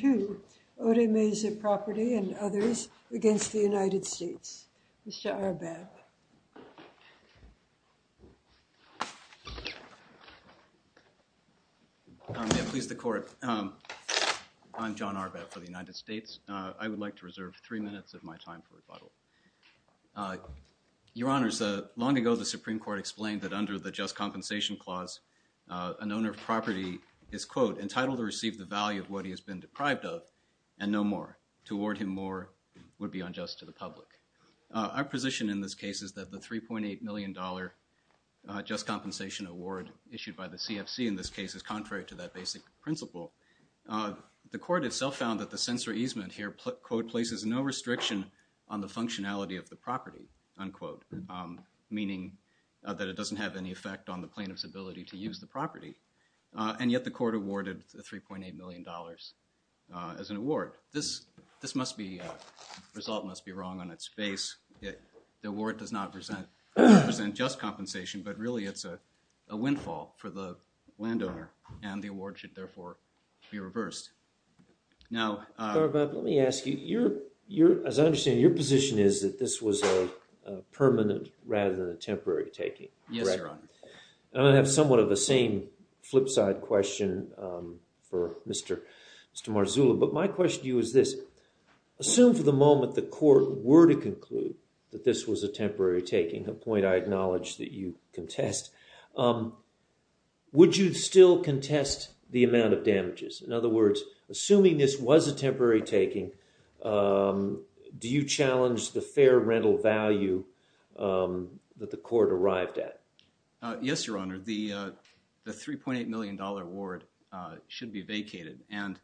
to Odeymeze Property and others against the United States. Mr. Arbab. May it please the court. I'm John Arbab for the United States. I would like to reserve three minutes of my time for rebuttal. Your Honors, long ago, the Supreme Court explained that under the Just Compensation Clause, an owner of property is, quote, entitled to receive the value of what he has been deprived of and no more. To award him more would be unjust to the public. Our position in this case is that the $3.8 million just compensation award issued by the CFC in this case is contrary to that basic principle. The court itself found that the censor easement here, quote, places no restriction on the functionality of the property, unquote, meaning that it doesn't have any effect on the plaintiff's ability to use the property. And yet, the court awarded $3.8 million as an award. This result must be wrong on its face. The award does not present just compensation, but really it's a windfall for the landowner. And the award should, therefore, be reversed. Now, Mr. Arbab, let me ask you. As I understand, your position is that this was a permanent rather than a temporary taking. Yes, Your Honor. I'm going to have somewhat of the same flip side question for Mr. Marzullo. But my question to you is this. Assume for the moment the court were to conclude that this was a temporary taking, a point I acknowledge that you contest, would you still contest the amount of damages? In other words, assuming this was a temporary taking, do you challenge the fair rental value that the court arrived at? Yes, Your Honor. The $3.8 million award should be vacated. And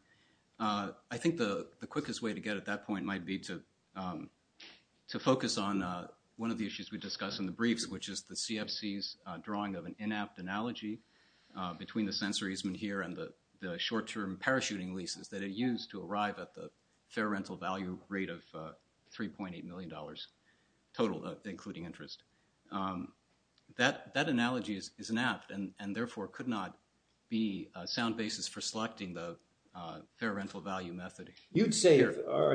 I think the quickest way to get at that point might be to focus on one of the issues we discussed in the briefs, which is the CFC's drawing of an in-app analogy between the sensor easement here and the short-term parachuting leases that it used to arrive at the fair rental value rate of $3.8 million total, including interest. That analogy is inapt and therefore could not be a sound basis for selecting the fair rental value method. Are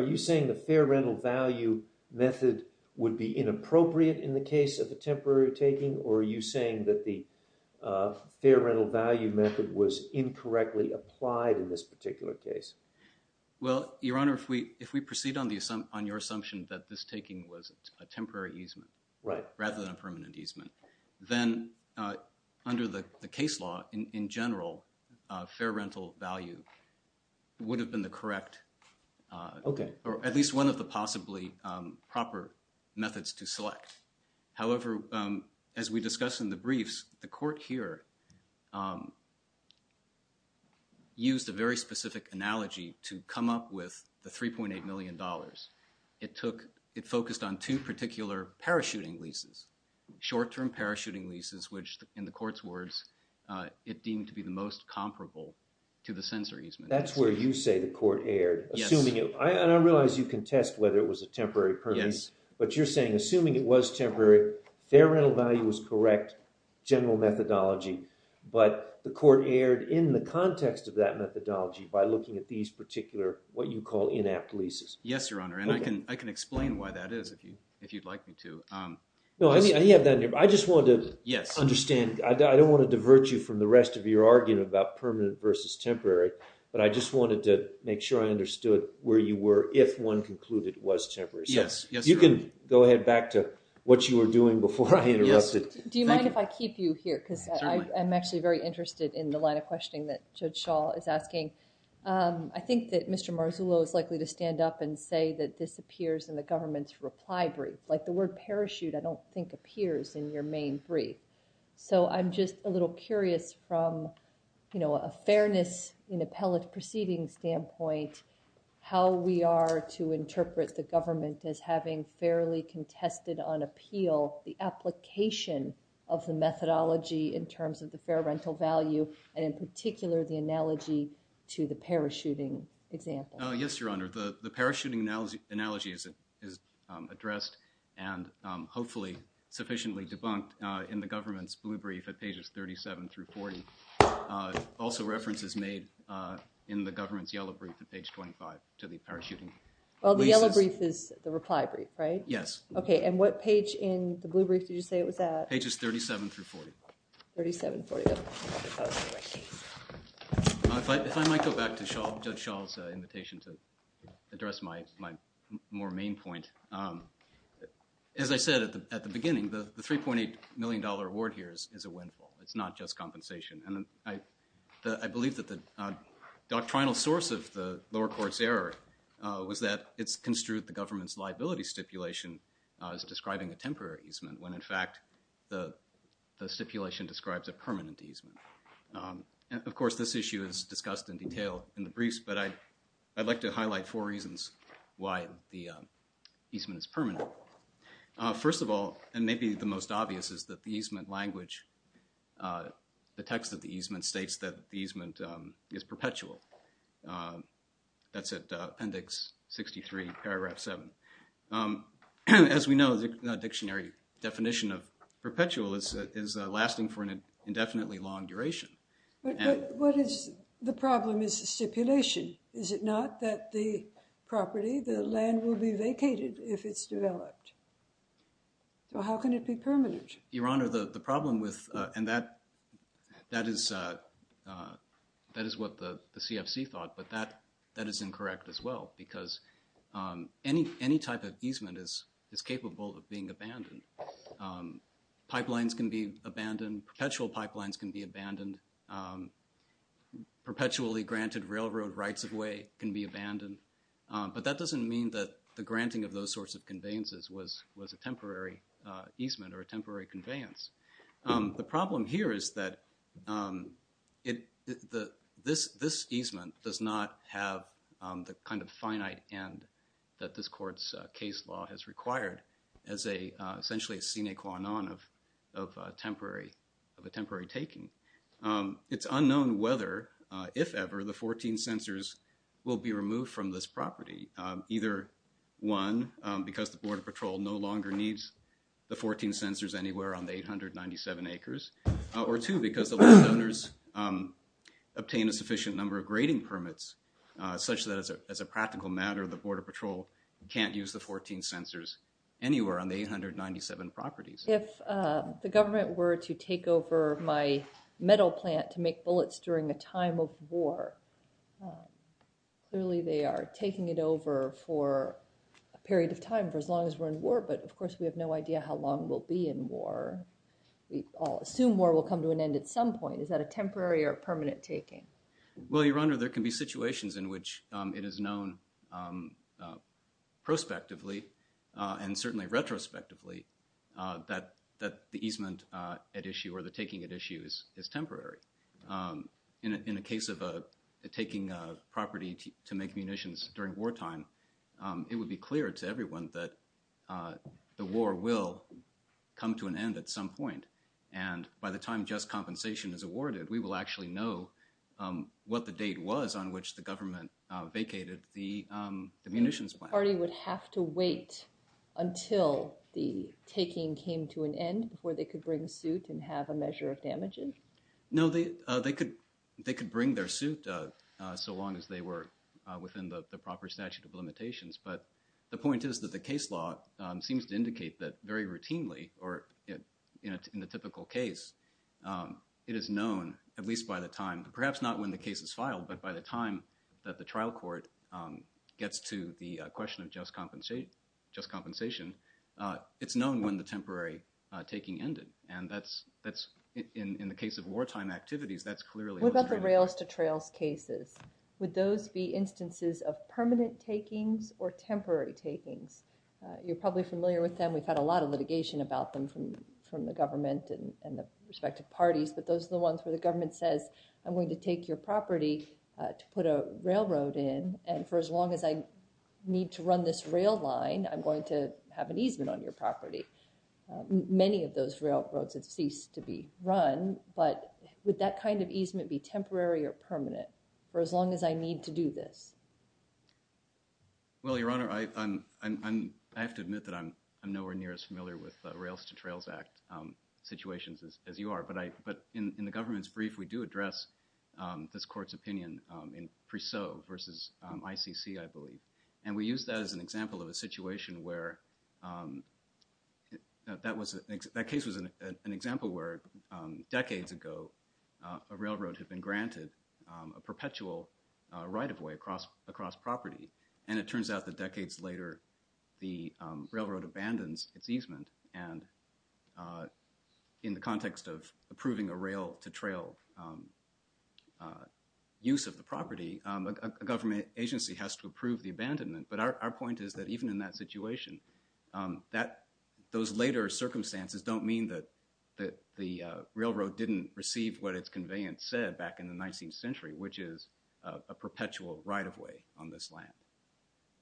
you saying the fair rental value method would be inappropriate in the case of a temporary taking? Or are you saying that the fair rental value method was incorrectly applied in this particular case? Well, Your Honor, if we proceed on your assumption that this taking was a temporary easement rather than a permanent easement, then under the case law, in general, fair rental value would have been the correct or at least one of the possibly proper methods to select. However, as we discussed in the briefs, the court here used a very specific analogy to come up with the $3.8 million. It focused on two particular parachuting leases, short-term parachuting leases, which in the court's words, it deemed to be the most comparable to the sensor easement. That's where you say the court erred, assuming it was. And I realize you contest whether it was a temporary permit. But you're saying, assuming it was temporary, fair rental value was correct, general methodology. But the court erred in the context of that methodology by looking at these particular, what you call, inapt leases. Yes, Your Honor. And I can explain why that is if you'd like me to. No, I didn't have that in here. But I just wanted to understand. I don't want to divert you from the rest of your argument about permanent versus temporary. But I just wanted to make sure I understood where you were if one concluded it was temporary. Yes, Your Honor. You can go ahead back to what you were doing before I interrupted. Do you mind if I keep you here? Because I'm actually very interested in the line of questioning that Judge Schall is asking. I think that Mr. Marzullo is likely to stand up and say that this appears in the government's reply brief. Like the word parachute, I don't think appears in your main brief. So I'm just a little curious from a fairness in appellate proceeding standpoint how we are to interpret the government as having fairly contested on appeal the application of the methodology in terms of the fair rental value, and in particular the analogy to the parachuting example. Yes, Your Honor. The parachuting analogy is addressed and hopefully sufficiently debunked in the government's blue brief at pages 37 through 40. at page 25 to the parachuting. Well, the yellow brief is the reply brief, right? Yes. OK, and what page in the blue brief did you say it was at? Pages 37 through 40. 37 through 40. If I might go back to Judge Schall's invitation to address my more main point. As I said at the beginning, the $3.8 million award here is a windfall. It's not just compensation. And I believe that the doctrinal source of the lower court's error was that it's construed the government's liability stipulation as describing a temporary easement when, in fact, the stipulation describes a permanent easement. And of course, this issue is discussed in detail in the briefs. But I'd like to highlight four reasons why the easement is permanent. First of all, and maybe the most obvious, is that the easement language, the text of the easement states that the easement is perpetual. That's at Appendix 63, Paragraph 7. As we know, the dictionary definition of perpetual is lasting for an indefinitely long duration. But what is the problem is the stipulation. Is it not that the property, the land, will be vacated if it's developed? So how can it be permanent? Your Honor, the problem with, and that is what the stipulation CFC thought, but that is incorrect as well. Because any type of easement is capable of being abandoned. Pipelines can be abandoned. Perpetual pipelines can be abandoned. Perpetually granted railroad rights of way can be abandoned. But that doesn't mean that the granting of those sorts of conveyances was a temporary easement or a temporary conveyance. The problem here is that this easement does not have the kind of finite end that this court's case law has required as essentially a sine qua non of a temporary taking. It's unknown whether, if ever, the 14 sensors will be removed from this property, either one, because the Border Patrol no longer needs the 14 897 acres, or two, because the landowners obtain a sufficient number of grading permits, such that, as a practical matter, the Border Patrol can't use the 14 sensors anywhere on the 897 properties. If the government were to take over my metal plant to make bullets during a time of war, clearly they are taking it over for a period of time for as long as we're in war. But of course, we have no idea how long we'll be in war. We all assume war will come to an end at some point. Is that a temporary or permanent taking? Well, Your Honor, there can be situations in which it is known prospectively and certainly retrospectively that the easement at issue or the taking at issue is temporary. In a case of taking a property to make munitions during wartime, it would be clear to everyone that the war will come to an end at some point. And by the time just compensation is awarded, we will actually know what the date was on which the government vacated the munitions plant. The party would have to wait until the taking came to an end before they could bring suit and have a measure of damages? No, they could bring their suit so long as they were within the proper statute of limitations. But the point is that the case law seems to indicate that very routinely, or in the typical case, it is known, at least by the time, perhaps not when the case is filed, but by the time that the trial court gets to the question of just compensation, it's known when the temporary taking ended. And that's, in the case of wartime activities, that's clearly- What about the rails-to-trails cases? Would those be instances of permanent takings or temporary takings? You're probably familiar with them. We've had a lot of litigation about them from the government and the respective parties, but those are the ones where the government says, I'm going to take your property to put a railroad in, and for as long as I need to run this rail line, I'm going to have an easement on your property. Many of those railroads have ceased to be run, but would that kind of easement be temporary or permanent for as long as I need to do this? Well, Your Honor, I have to admit that I'm nowhere near as familiar with the Rails-to-Trails Act situations as you are, but in the government's brief, we do address this court's opinion in Preseau versus ICC, I believe. And we use that as an example of a situation where that case was an example where, decades ago, a railroad had been granted a perpetual right-of-way across property, and it turns out that decades later, the railroad abandons its easement, and in the context of approving a rail-to-trail use of the property, a government agency has to approve the abandonment, but our point is that even in that situation, those later circumstances don't mean that the railroad didn't receive what its conveyance said back in the 19th century, which is a perpetual right-of-way on this land.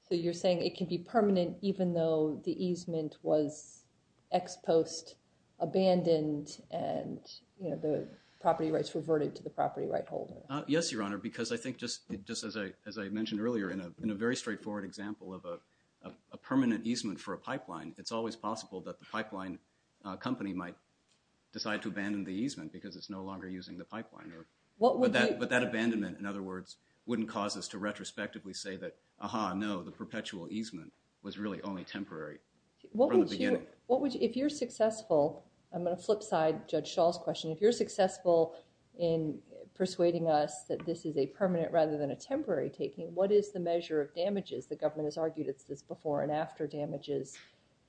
So you're saying it can be permanent even though the easement was ex post abandoned, and the property rights reverted to the property right holder? Yes, Your Honor, because I think, just as I mentioned earlier, in a very straightforward example of a permanent easement for a pipeline, it's always possible that the pipeline company might decide to abandon the easement because it's no longer using the pipeline, but that abandonment, in other words, wouldn't cause us to retrospectively say that, aha, no, the perpetual easement was really only temporary from the beginning. If you're successful, I'm gonna flip side Judge Schall's question, if you're successful in persuading us that this is a permanent rather than a temporary taking, what is the measure of damages? The government has argued it's this before and after damages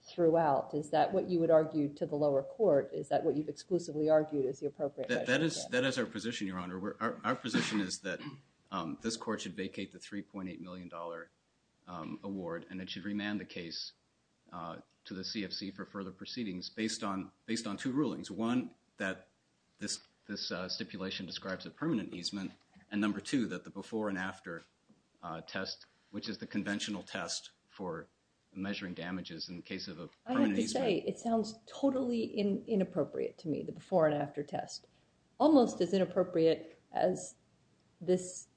throughout. Is that what you would argue to the lower court? Is that what you've exclusively argued is the appropriate measure? That is our position, Your Honor. Our position is that this court should vacate the $3.8 million award and it should remand the case to the CFC for further proceedings based on two rulings. One, that this stipulation describes a permanent easement, and number two, that the before and after test, which is the conventional test for measuring damages in the case of a permanent easement. I have to say, it sounds totally inappropriate to me, the before and after test. Almost as inappropriate as this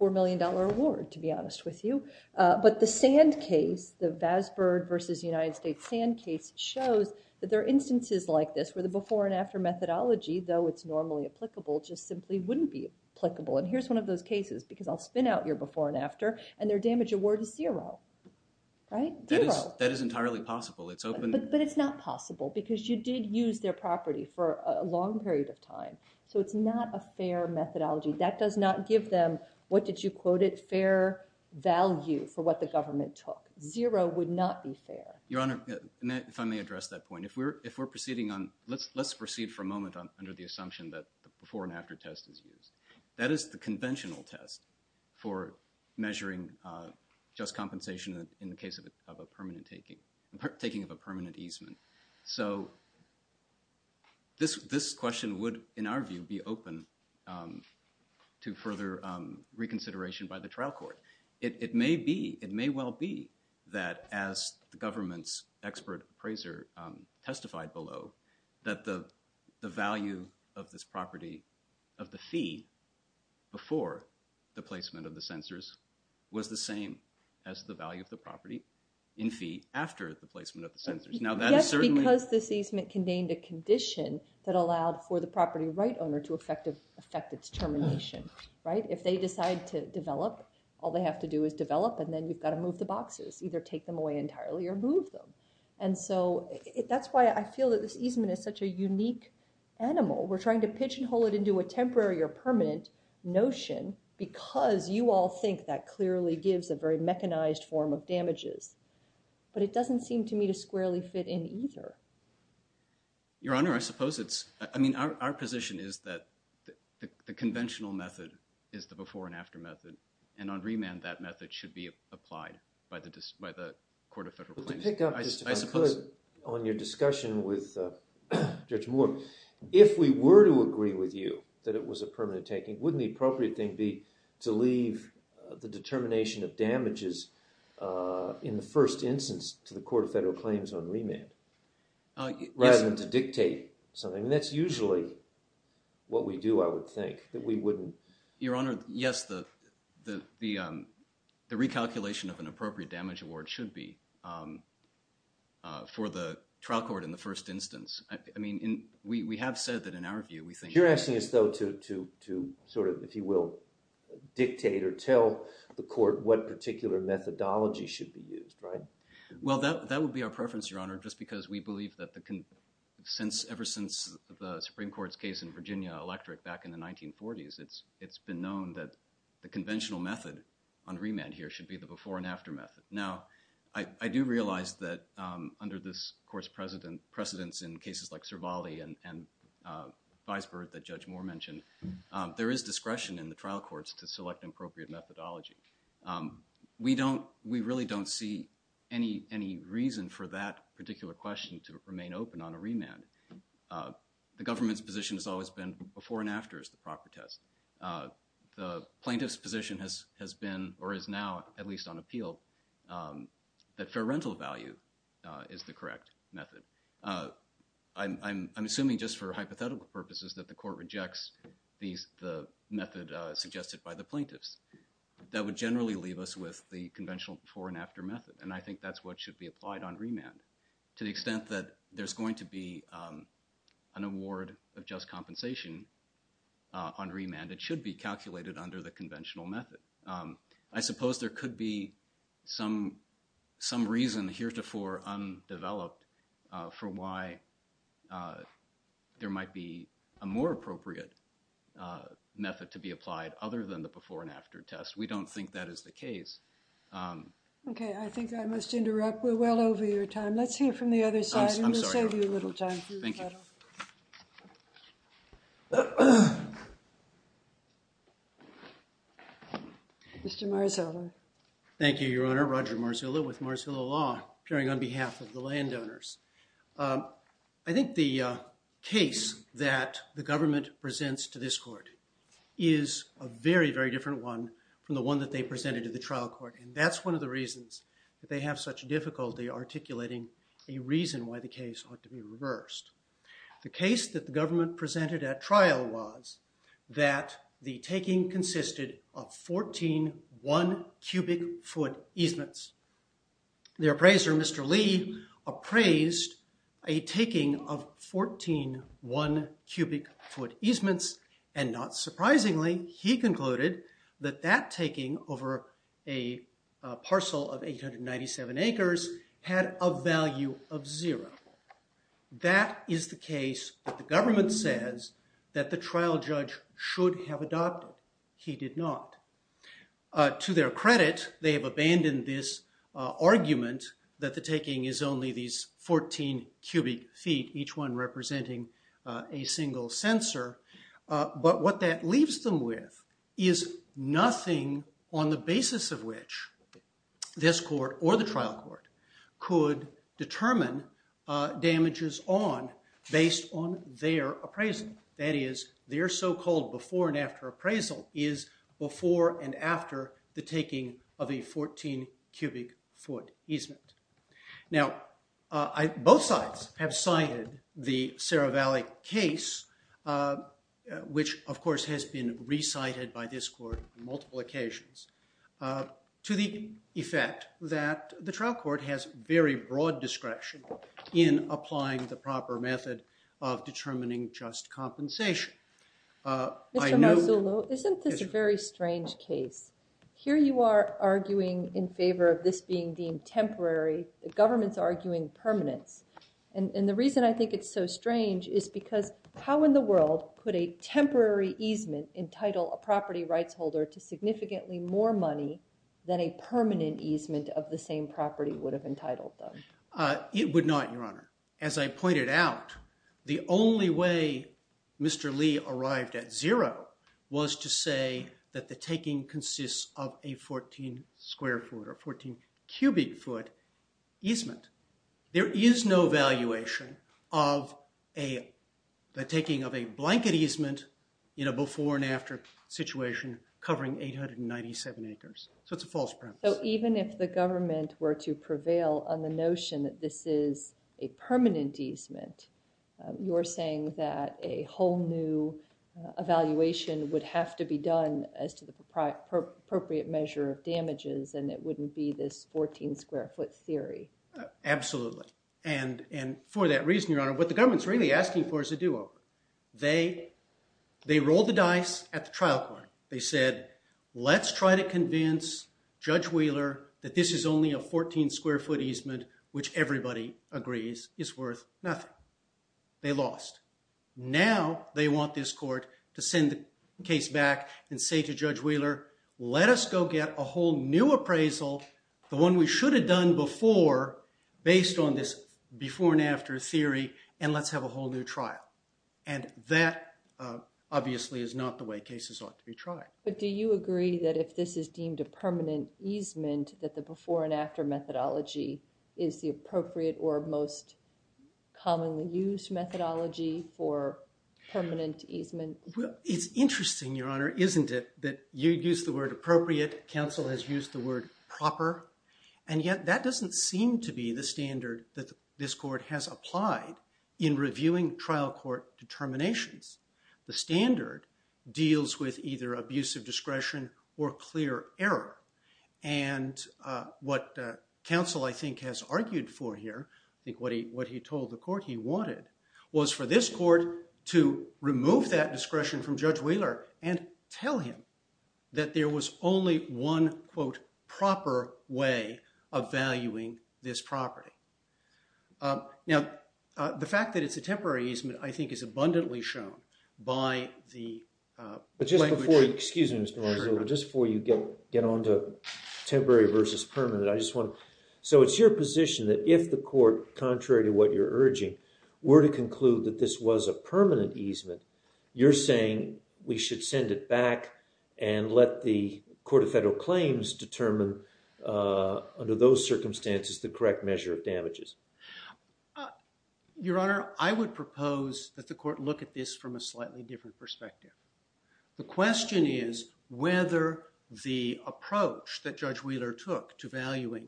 $4 million award, to be honest with you. But the Sand case, the Vazbird versus United States Sand case, shows that there are instances like this where the before and after methodology, though it's normally applicable, just simply wouldn't be applicable. And here's one of those cases, because I'll spin out your before and after, and their damage award is zero, right? Zero. That is entirely possible, it's open. But it's not possible, because you did use their property for a long period of time. So it's not a fair methodology. That does not give them, what did you quote it, fair value for what the government took. Zero would not be fair. Your Honor, if I may address that point. If we're proceeding on, let's proceed for a moment under the assumption that the before and after test is used. That is the conventional test for measuring just compensation in the case of a permanent taking, taking of a permanent easement. So this question would, in our view, be open to further reconsideration by the trial court. It may be, it may well be, that as the government's expert appraiser testified below, that the value of this property of the fee before the placement of the censors was the same as the value of the property in fee after the placement of the censors. Yes, because this easement contained a condition that allowed for the property right owner to affect its termination, right? If they decide to develop, all they have to do is develop, and then you've got to move the boxes, either take them away entirely or move them. And so that's why I feel that this easement is such a unique animal. We're trying to pigeonhole it into a temporary or permanent notion because you all think that clearly gives a very mechanized form of damages. But it doesn't seem to me to squarely fit in either. Your Honor, I suppose it's, I mean, our position is that the conventional method is the before and after method. And on remand, that method should be applied by the Court of Federal Claims. I suppose- To pick up just if I could on your discussion with Judge Moore, if we were to agree with you that it was a permanent taking, wouldn't the appropriate thing be to leave the determination of damages in the first instance to the Court of Federal Claims on remand rather than to dictate something? That's usually what we do, I would think, that we wouldn't- Your Honor, yes, the recalculation of an appropriate damage award should be for the trial court in the first instance. I mean, we have said that in our view, we think- You're asking us, though, to sort of, if you will, dictate or tell the court what particular methodology should be used, right? Well, that would be our preference, Your Honor, just because we believe that ever since the Supreme Court's case in Virginia Electric back in the 1940s, it's been known that the conventional method on remand here should be the before and after method. Now, I do realize that under this Court's precedence in cases like Cervale and Visburg that Judge Moore mentioned, there is discretion in the trial courts to select appropriate methodology. We really don't see any reason for that particular question to remain open on a remand. The government's position has always been before and after is the proper test. The plaintiff's position has been, or is now, at least on appeal, that fair rental value is the correct method. I'm assuming just for hypothetical purposes that the court rejects the method suggested by the plaintiffs. That would generally leave us with the conventional before and after method, and I think that's what should be applied on remand. To the extent that there's going to be an award of just compensation on remand, it should be calculated under the conventional method. I suppose there could be some reason heretofore undeveloped for why there might be a more appropriate method to be applied other than the before and after test. We don't think that is the case. Okay, I think I must interrupt. We're well over your time. Let's hear from the other side, and we'll save you a little time. Thank you. Mr. Marzullo. Thank you, Your Honor. Roger Marzullo with Marzullo Law, appearing on behalf of the landowners. I think the case that the government presents to this court is a very, very different one from the one that they presented to the trial court, and that's one of the reasons that they have such difficulty articulating a reason why the case ought to be reversed. The case that the government presented at trial was that the taking consisted of 14 one-cubic-foot easements. The appraiser, Mr. Lee, appraised a taking of 14 one-cubic-foot easements, and not surprisingly, he concluded that that taking over a parcel of 897 acres had a value of zero. That is the case that the government says that the trial judge should have adopted. He did not. To their credit, they have abandoned this argument that the taking is only these 14 cubic feet, each one representing a single sensor, but what that leaves them with is nothing on the basis of which this court or the trial court could determine damages on based on their appraisal. That is, their so-called before and after appraisal is before and after the taking of a 14-cubic-foot easement. Now, both sides have cited the Cerro Valley case, which of course has been recited by this court on multiple occasions, to the effect that the trial court has very broad discretion in applying the proper method of determining just compensation. I know- Mr. Marsullo, isn't this a very strange case? Here you are arguing in favor of this being deemed temporary, the government's arguing permanence, and the reason I think it's so strange is because how in the world could a temporary easement entitle a property rights holder to significantly more money than a permanent easement of the same property would have entitled them? It would not, Your Honor. As I pointed out, the only way Mr. Lee arrived at zero was to say that the taking consists of a 14-square-foot or 14-cubic-foot easement. There is no valuation of the taking of a blanket easement in a before and after situation covering 897 acres. So it's a false premise. So even if the government were to prevail on the notion that this is a permanent easement, you're saying that a whole new evaluation would have to be done as to the appropriate measure of damages and it wouldn't be this 14-square-foot theory. Absolutely, and for that reason, Your Honor, what the government's really asking for is a do-over. They rolled the dice at the trial court. They said, let's try to convince Judge Wheeler that this is only a 14-square-foot easement which everybody agrees is worth nothing. They lost. Now they want this court to send the case back and say to Judge Wheeler, let us go get a whole new appraisal, the one we should have done before based on this before and after theory, and let's have a whole new trial. And that obviously is not the way cases ought to be tried. But do you agree that if this is deemed a permanent easement that the before and after methodology is the appropriate or most commonly used methodology for permanent easement? It's interesting, Your Honor, isn't it, that you used the word appropriate, counsel has used the word proper, and yet that doesn't seem to be the standard that this court has applied in reviewing trial court determinations. The standard deals with either abusive discretion or clear error. And what counsel, I think, has argued for here, I think what he told the court he wanted, was for this court to remove that discretion from Judge Wheeler and tell him that there was only one, quote, proper way of valuing this property. Now, the fact that it's a temporary easement, I think, is abundantly shown by the language. But just before, excuse me, Mr. Marzullo, just before you get on to temporary versus permanent, I just wanna, so it's your position that if the court, contrary to what you're urging, were to conclude that this was a permanent easement, you're saying we should send it back and let the Court of Federal Claims determine, under those circumstances, the correct measure of damages? Your Honor, I would propose that the court look at this from a slightly different perspective. The question is whether the approach that Judge Wheeler took to valuing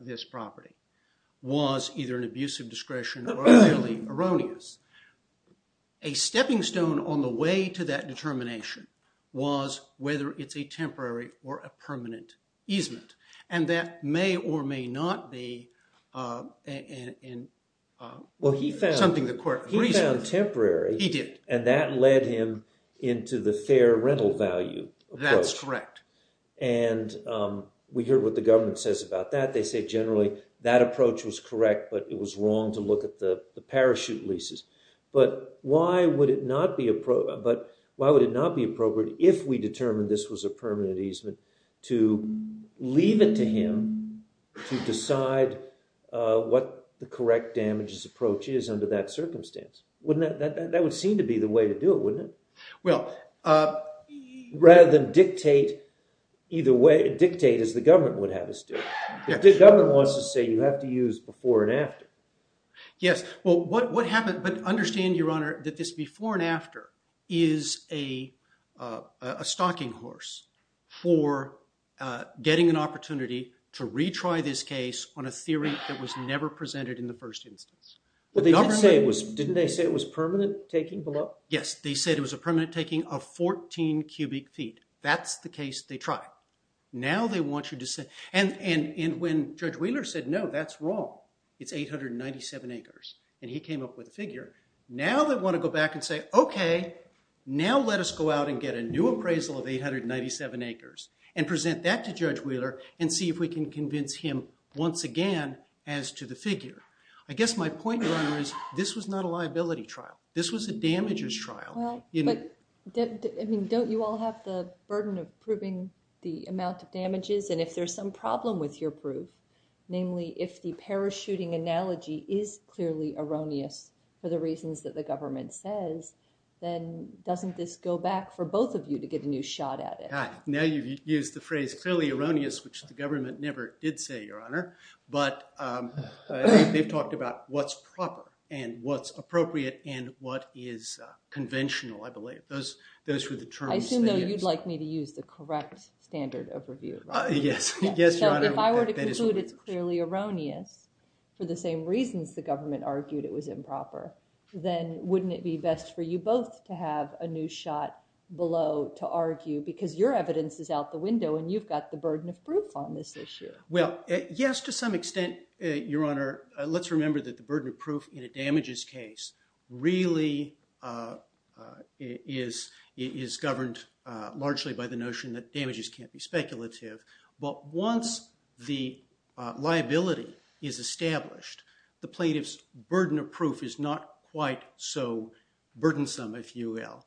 this property was either an abusive discretion or merely erroneous. A stepping stone on the way to that determination was whether it's a temporary or a permanent easement. And that may or may not be something the court reasoned. He found temporary. He did. And that led him into the fair rental value approach. That's correct. And we hear what the government says about that. They say generally that approach was correct, but it was wrong to look at the parachute leases. But why would it not be appropriate if we determined this was a permanent easement to leave it to him to decide what the correct damages approach is under that circumstance? Wouldn't that... That would seem to be the way to do it, wouldn't it? Well... Rather than dictate either way, dictate as the government would have us do. If the government wants to say you have to use before and after. Yes, well, what happened... But understand, Your Honor, that this before and after is a stalking horse for getting an opportunity to retry this case on a theory that was never presented in the first instance. Well, didn't they say it was permanent taking below? Yes, they said it was a permanent taking of 14 cubic feet. That's the case they tried. Now they want you to say... And when Judge Wheeler said, no, that's wrong. It's 897 acres. And he came up with a figure. Now they want to go back and say, okay, now let us go out and get a new appraisal of 897 acres and present that to Judge Wheeler and see if we can convince him once again as to the figure. I guess my point, Your Honor, is this was not a liability trial. This was a damages trial. Well, but don't you all have the burden of proving the amount of damages? And if there's some problem with your proof, namely if the parachuting analogy is clearly erroneous for the reasons that the government says, then doesn't this go back for both of you to get a new shot at it? Now you've used the phrase clearly erroneous, which the government never did say, Your Honor. But they've talked about what's proper and what's appropriate and what is conventional, I believe. Those were the terms they used. I assume, though, you'd like me to use the correct standard of review, right? Yes, Your Honor. So if I were to conclude it's clearly erroneous for the same reasons the government argued it was improper, then wouldn't it be best for you both to have a new shot below to argue? Because your evidence is out the window and you've got the burden of proof on this issue. Well, yes, to some extent, Your Honor. Let's remember that the burden of proof in a damages case really is governed largely by the notion that damages can't be speculative. But once the liability is established, the plaintiff's burden of proof is not quite so burdensome, if you will,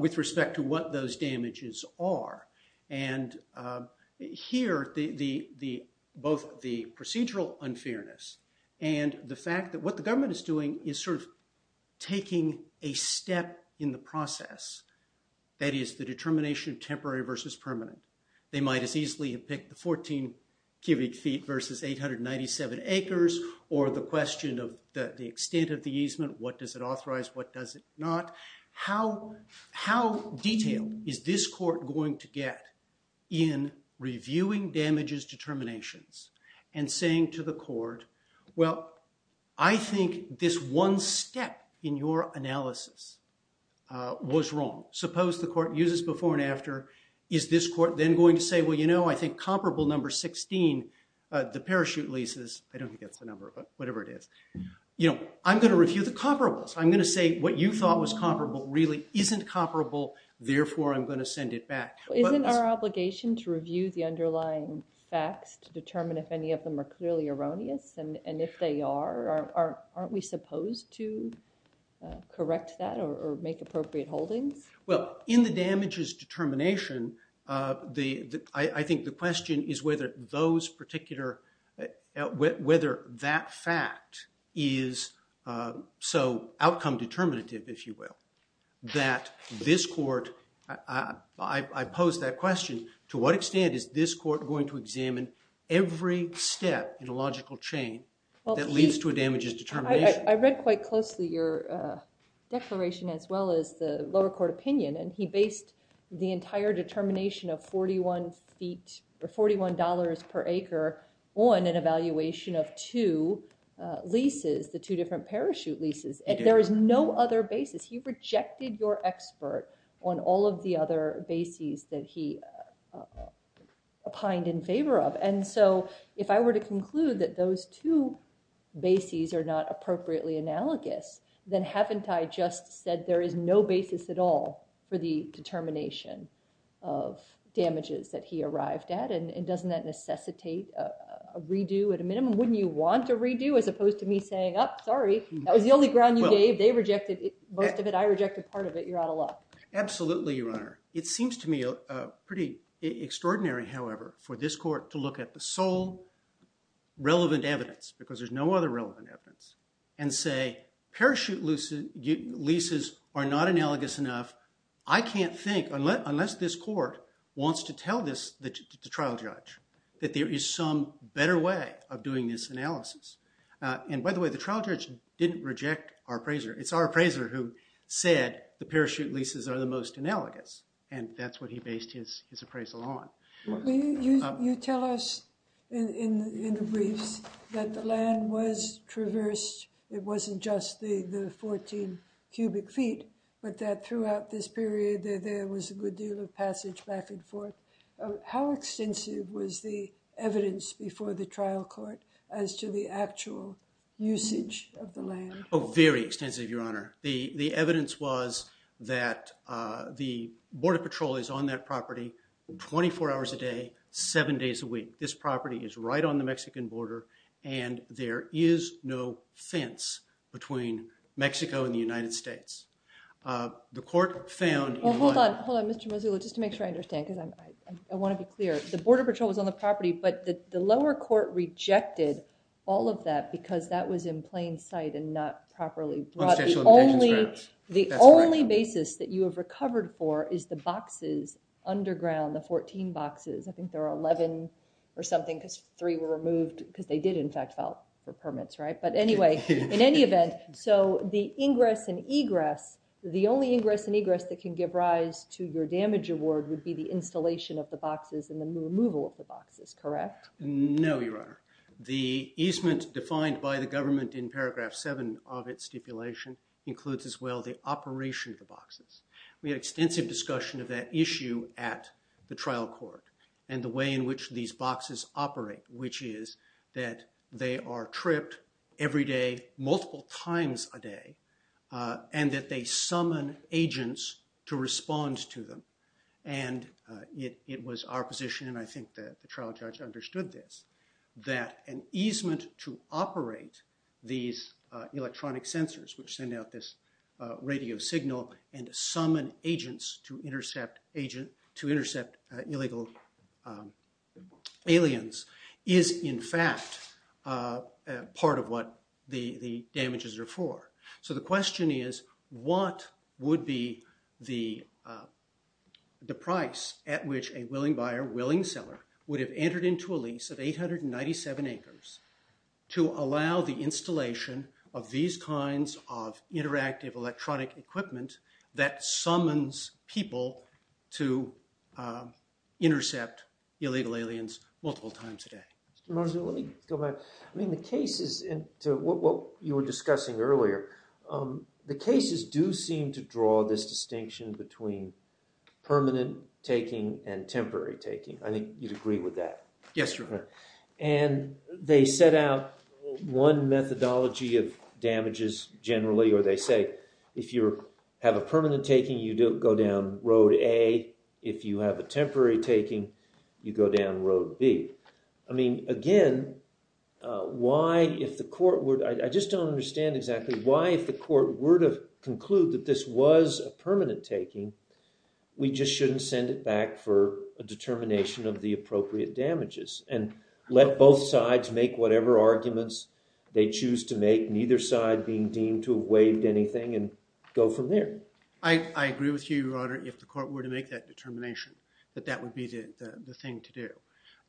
with respect to what those damages are. And here, both the procedural unfairness and the fact that what the government is doing is sort of taking a step in the process. That is, the determination of temporary versus permanent. They might as easily have picked the 14 cubic feet versus 897 acres or the question of the extent of the easement. What does it authorize? What does it not? How detailed is this court going to get in reviewing damages determinations and saying to the court, well, I think this one step in your analysis was wrong. Suppose the court uses before and after. Is this court then going to say, well, you know, I think comparable number 16, the parachute leases, I don't think that's the number, but whatever it is, I'm going to review the comparables. I'm going to say what you thought was comparable really isn't comparable. Therefore, I'm going to send it back. Isn't our obligation to review the underlying facts to determine if any of them are clearly erroneous? And if they are, aren't we supposed to correct that or make appropriate holdings? Well, in the damages determination, I think the question is whether those particular, whether that fact is so outcome determinative, if you will, that this court, I pose that question, to what extent is this court going to examine every step in a logical chain that leads to a damages determination? I read quite closely your declaration as well as the lower court opinion, and he based the entire determination of 41 feet or $41 per acre on an evaluation of two leases, the two different parachute leases, and there is no other basis. He rejected your expert on all of the other bases that he opined in favor of. And so if I were to conclude that those two bases are not appropriately analogous, then haven't I just said there is no basis at all for the determination of damages that he arrived at? And doesn't that necessitate a redo at a minimum? Wouldn't you want a redo as opposed to me saying, oh, sorry, that was the only ground you gave. They rejected most of it, I rejected part of it. You're out of luck. Absolutely, Your Honor. It seems to me pretty extraordinary, however, for this court to look at the sole relevant evidence, because there's no other relevant evidence, and say parachute leases are not analogous enough. I can't think, unless this court wants to tell this, the trial judge, that there is some better way of doing this analysis. And by the way, the trial judge didn't reject our appraiser. It's our appraiser who said the parachute leases are the most analogous, and that's what he based his appraisal on. You tell us in the briefs that the land was traversed, it wasn't just the 14 cubic feet, but that throughout this period, that there was a good deal of passage back and forth. How extensive was the evidence before the trial court as to the actual usage of the land? Oh, very extensive, Your Honor. The evidence was that the Border Patrol is on that property 24 hours a day, seven days a week. This property is right on the Mexican border, and there is no fence between Mexico and the United States. The court found in one- Well, hold on, hold on, Mr. Mazzullo, just to make sure I understand, because I want to be clear. The Border Patrol was on the property, but the lower court rejected all of that because that was in plain sight and not properly brought. The only basis that you have recovered for is the boxes underground, the 14 boxes. I think there were 11 or something, because three were removed, because they did, in fact, file for permits, right? But anyway, in any event, so the ingress and egress, the only ingress and egress that can give rise to your damage award would be the installation of the boxes and the removal of the boxes, correct? No, Your Honor. The easement defined by the government in paragraph seven of its stipulation includes as well the operation of the boxes. We had extensive discussion of that issue at the trial court, and the way in which these boxes operate, which is that they are tripped every day, multiple times a day, and that they summon agents to respond to them. And it was our position, and I think the trial judge understood this, that an easement to operate these electronic sensors, which send out this radio signal, and to summon agents to intercept illegal aliens is, in fact, part of what the damages are for. So the question is, what would be the price at which a willing buyer, willing seller, would have entered into a lease of 897 acres to allow the installation of these kinds of interactive electronic equipment that summons people to intercept illegal aliens multiple times a day? Mr. Marzullo, let me go back. I mean, the cases, and to what you were discussing earlier, the cases do seem to draw this distinction between permanent taking and temporary taking. I think you'd agree with that. Yes, Your Honor. And they set out one methodology of damages, generally, or they say, if you have a permanent taking, you go down Road A. If you have a temporary taking, you go down Road B. I mean, again, why, if the court would, I just don't understand exactly, why, if the court were to conclude that this was a permanent taking, we just shouldn't send it back for a determination of the appropriate damages, and let both sides make whatever arguments they choose to make, neither side being deemed to have waived anything, and go from there? I agree with you, Your Honor, if the court were to make that determination, that that would be the thing to do.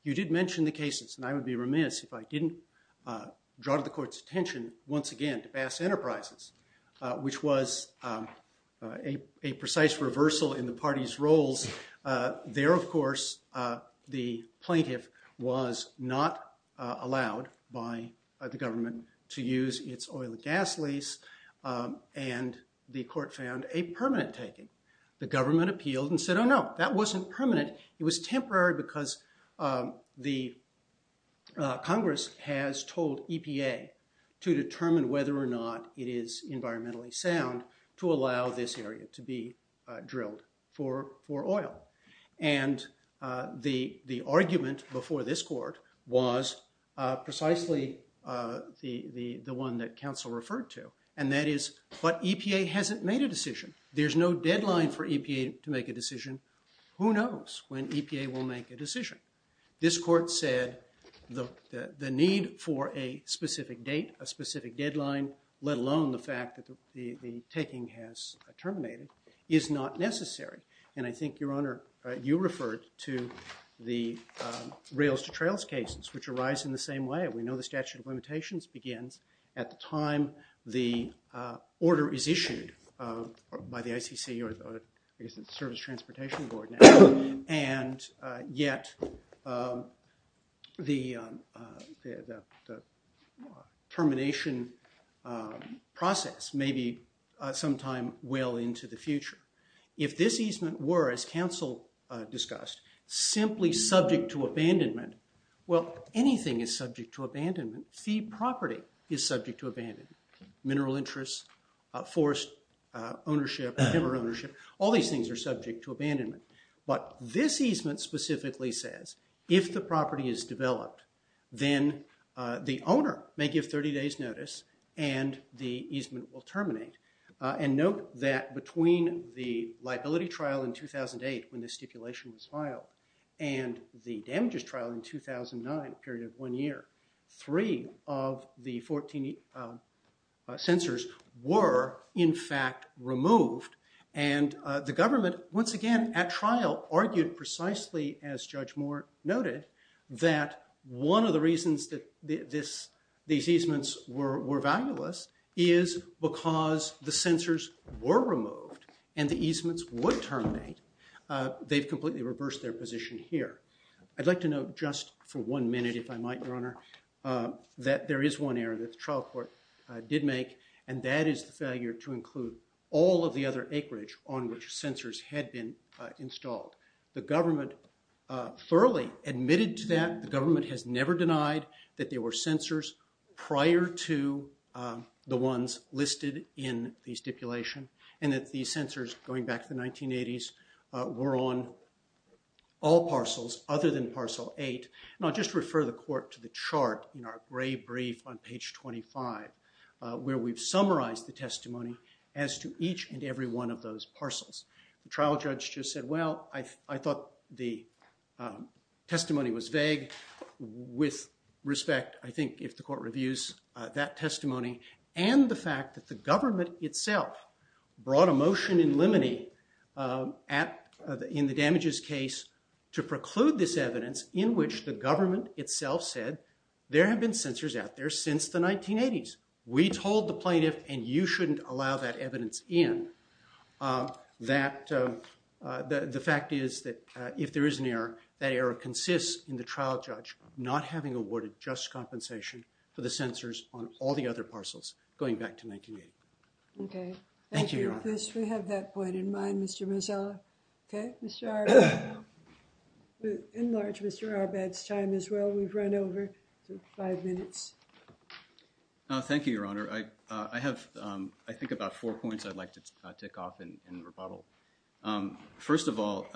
You did mention the cases, and I would be remiss if I didn't draw the court's attention, once again, to Bass Enterprises, which was a precise reversal in the party's roles. There, of course, the plaintiff was not allowed by the government to use its oil and gas lease, and the court found a permanent taking. The government appealed and said, oh no, that wasn't permanent, it was temporary because the Congress has told EPA to determine whether or not it is environmentally sound to allow this area to be drilled for oil. And the argument before this court was precisely the one that counsel referred to, and that is, but EPA hasn't made a decision. There's no deadline for EPA to make a decision. Who knows when EPA will make a decision? This court said the need for a specific date, a specific deadline, let alone the fact that the taking has terminated, is not necessary. And I think, Your Honor, you referred to the rails-to-trails cases, which arise in the same way. We know the statute of limitations begins at the time the order is issued by the ICC, or I guess it's the Service Transportation Board now, and yet the termination process may be sometime well into the future. If this easement were, as counsel discussed, simply subject to abandonment, well, anything is subject to abandonment. The property is subject to abandonment. Mineral interests, forest ownership, river ownership, all these things are subject to abandonment. But this easement specifically says if the property is developed, then the owner may give 30 days' notice and the easement will terminate. And note that between the liability trial in 2008, when the stipulation was filed, and the damages trial in 2009, a period of one year, three of the 14 censors were, in fact, removed. And the government, once again, at trial, argued precisely, as Judge Moore noted, that one of the reasons that these easements were valueless is because the censors were removed and the easements would terminate. They've completely reversed their position here. I'd like to note just for one minute, if I might, Your Honor, that there is one error that the trial court did make, and that is the failure to include all of the other acreage on which censors had been installed. The government thoroughly admitted to that. The government has never denied that there were censors prior to the ones listed in the stipulation, and that these censors, going back to the 1980s, were on all parcels other than parcel eight. And I'll just refer the court to the chart in our gray brief on page 25, where we've summarized the testimony as to each and every one of those parcels. The trial judge just said, well, I thought the testimony was vague with respect, I think, if the court reviews that testimony, and the fact that the government itself brought a motion in limine in the damages case to preclude this evidence in which the government itself said, there have been censors out there since the 1980s. We told the plaintiff, and you shouldn't allow that evidence in, that the fact is that if there is an error, that error consists in the trial judge not having awarded just compensation for the censors on all the other parcels, going back to 1980. Okay, thank you, Your Honor. Thank you, Chris. We have that point in mind, Mr. Mazzella. Okay, Mr. Arbad. Enlarge Mr. Arbad's time as well. We've run over five minutes. Thank you, Your Honor. I have, I think, about four points I'd like to tick off in rebuttal. First of all,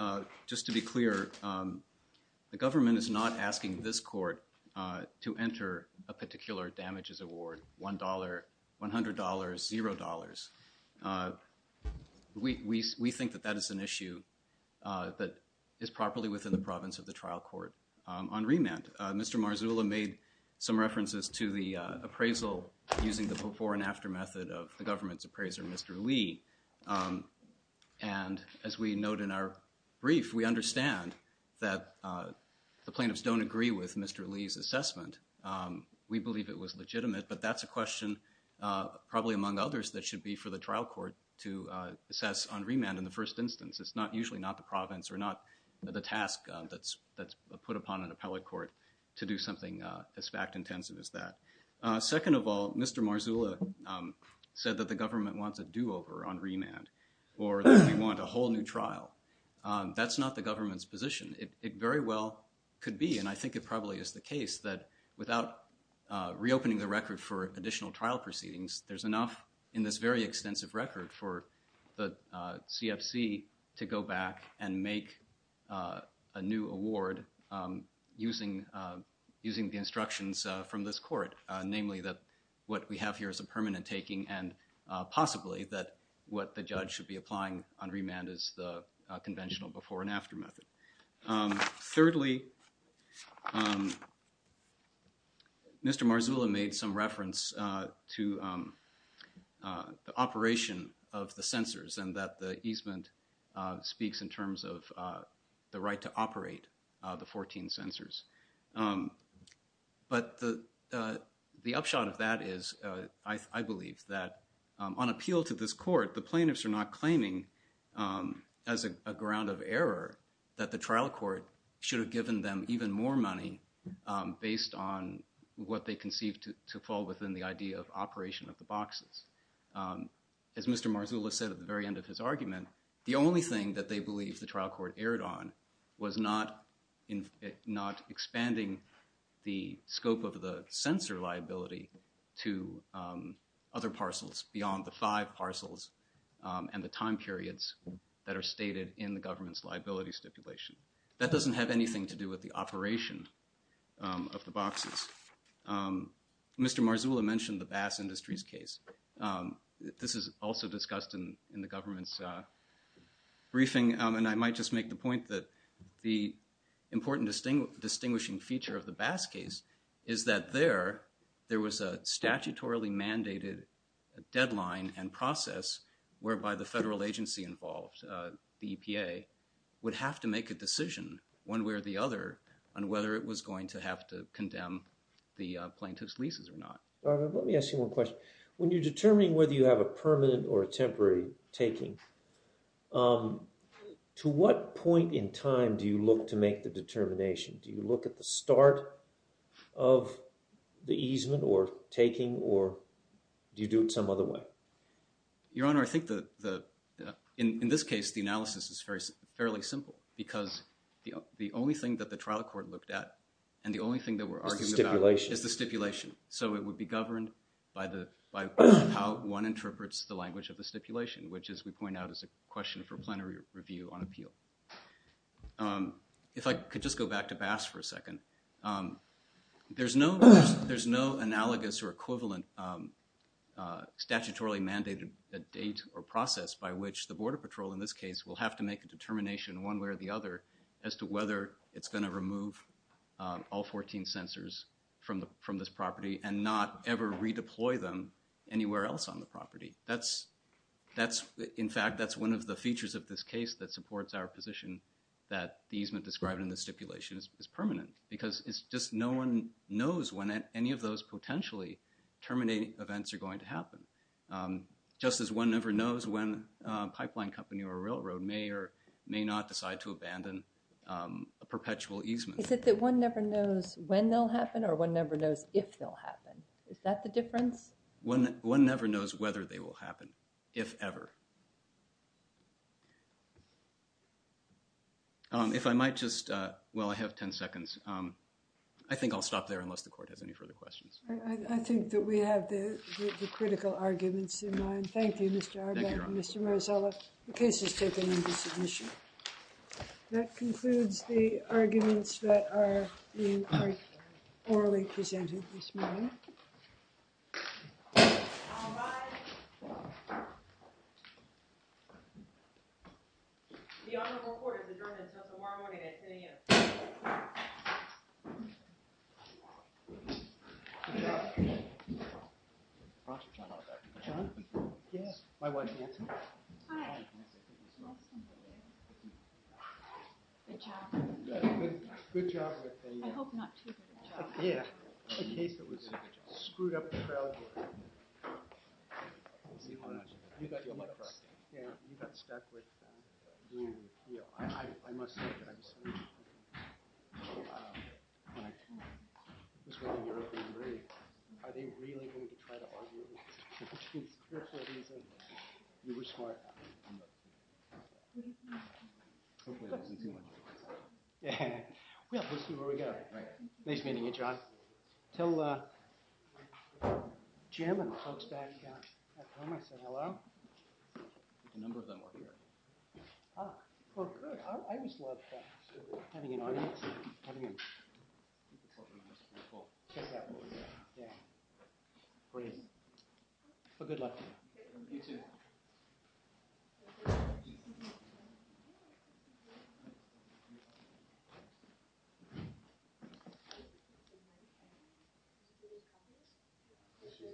just to be clear, the government is not asking this court to enter a particular damages award, $1, $100, zero dollars. We think that that is an issue that is properly within the province of the trial court. On remand, Mr. Marzullo made some references to the appraisal using the before and after method of the government's appraiser, Mr. Lee, and as we note in our brief, we understand that the plaintiffs don't agree with Mr. Lee's assessment. We believe it was legitimate, but that's a question, probably among others, that should be for the trial court to assess on remand in the first instance. It's usually not the province or not the task that's put upon an appellate court to do something as fact-intensive as that. Second of all, Mr. Marzullo said that the government wants a do-over on remand or that we want a whole new trial. That's not the government's position. It very well could be, and I think it probably is the case, that without reopening the record for additional trial proceedings, there's enough in this very extensive record for the CFC to go back and make a new award using the instructions from this court, namely that what we have here is a permanent taking and possibly that what the judge should be applying on remand is the conventional before and after method. Thirdly, Mr. Marzullo made some reference to the operation of the censors and that the easement speaks in terms of the right to operate the 14 censors. But the upshot of that is, I believe, that on appeal to this court, the plaintiffs are not claiming as a ground of error that the trial court should have given them even more money based on what they conceived to fall within the idea of operation of the boxes. As Mr. Marzullo said at the very end of his argument, the only thing that they believe the trial court erred on was not expanding the scope of the censor liability to other parcels beyond the five parcels and the time periods that are stated in the government's liability stipulation. That doesn't have anything to do with the operation of the boxes. Mr. Marzullo mentioned the Bass Industries case. This is also discussed in the government's briefing and I might just make the point that the important distinguishing feature of the Bass case is that there, there was a statutorily mandated deadline and process whereby the federal agency involved, the EPA, would have to make a decision one way or the other on whether it was going to have to condemn the plaintiff's leases or not. Robert, let me ask you one question. When you're determining whether you have a permanent or a temporary taking, to what point in time do you look to make the determination? Do you look at the start of the easement or taking or do you do it some other way? Your Honor, I think in this case, the analysis is fairly simple because the only thing that the trial court looked at and the only thing that we're arguing about is the stipulation. So it would be governed by how one interprets the language of the stipulation, which as we point out is a question for plenary review on appeal. If I could just go back to Bass for a second. There's no analogous or equivalent statutorily mandated date or process by which the Border Patrol in this case will have to make a determination one way or the other as to whether it's gonna remove all 14 censors from this property and not ever redeploy them anywhere else on the property. That's, in fact, that's one of the features of this case that supports our position that the easement described in the stipulation is permanent because it's just no one knows when any of those potentially terminating events are going to happen. Just as one never knows when a pipeline company or a railroad may or may not decide to abandon a perpetual easement. Is it that one never knows when they'll happen or one never knows if they'll happen? Is that the difference? One never knows whether they will happen, if ever. If I might just, well, I have 10 seconds. I think I'll stop there unless the court has any further questions. I think that we have the critical arguments in mind. Thank you, Mr. Auerbach and Mr. Marzella. The case is taken into submission. That concludes the arguments that are being orally presented this morning. All rise. The honorable court has adjourned and sent the warm warning at 10 a.m. Thank you. My wife, Nancy. Hi. Good job. Good job. I hope not too good a job. Yeah. The case that was screwed up the trail here. You got your money back. Yeah, you got stuck with doing, I must say that I was, just wondering if you agree, are they really going to try to argue with us? Which means, you were smart. Hopefully, it wasn't too much. Yeah, we'll see where we go. Nice meeting you, John. Tell Jim and the folks back at home I said hello. A number of them are here. Ah, well, good. I just love having an audience, having a, just that voice. Yeah. Please. Well, good luck to you. You too. We did the case. We did the case. We did the case. We did the case. Yeah. I think probably. I think probably. I'm sure. I'm sure.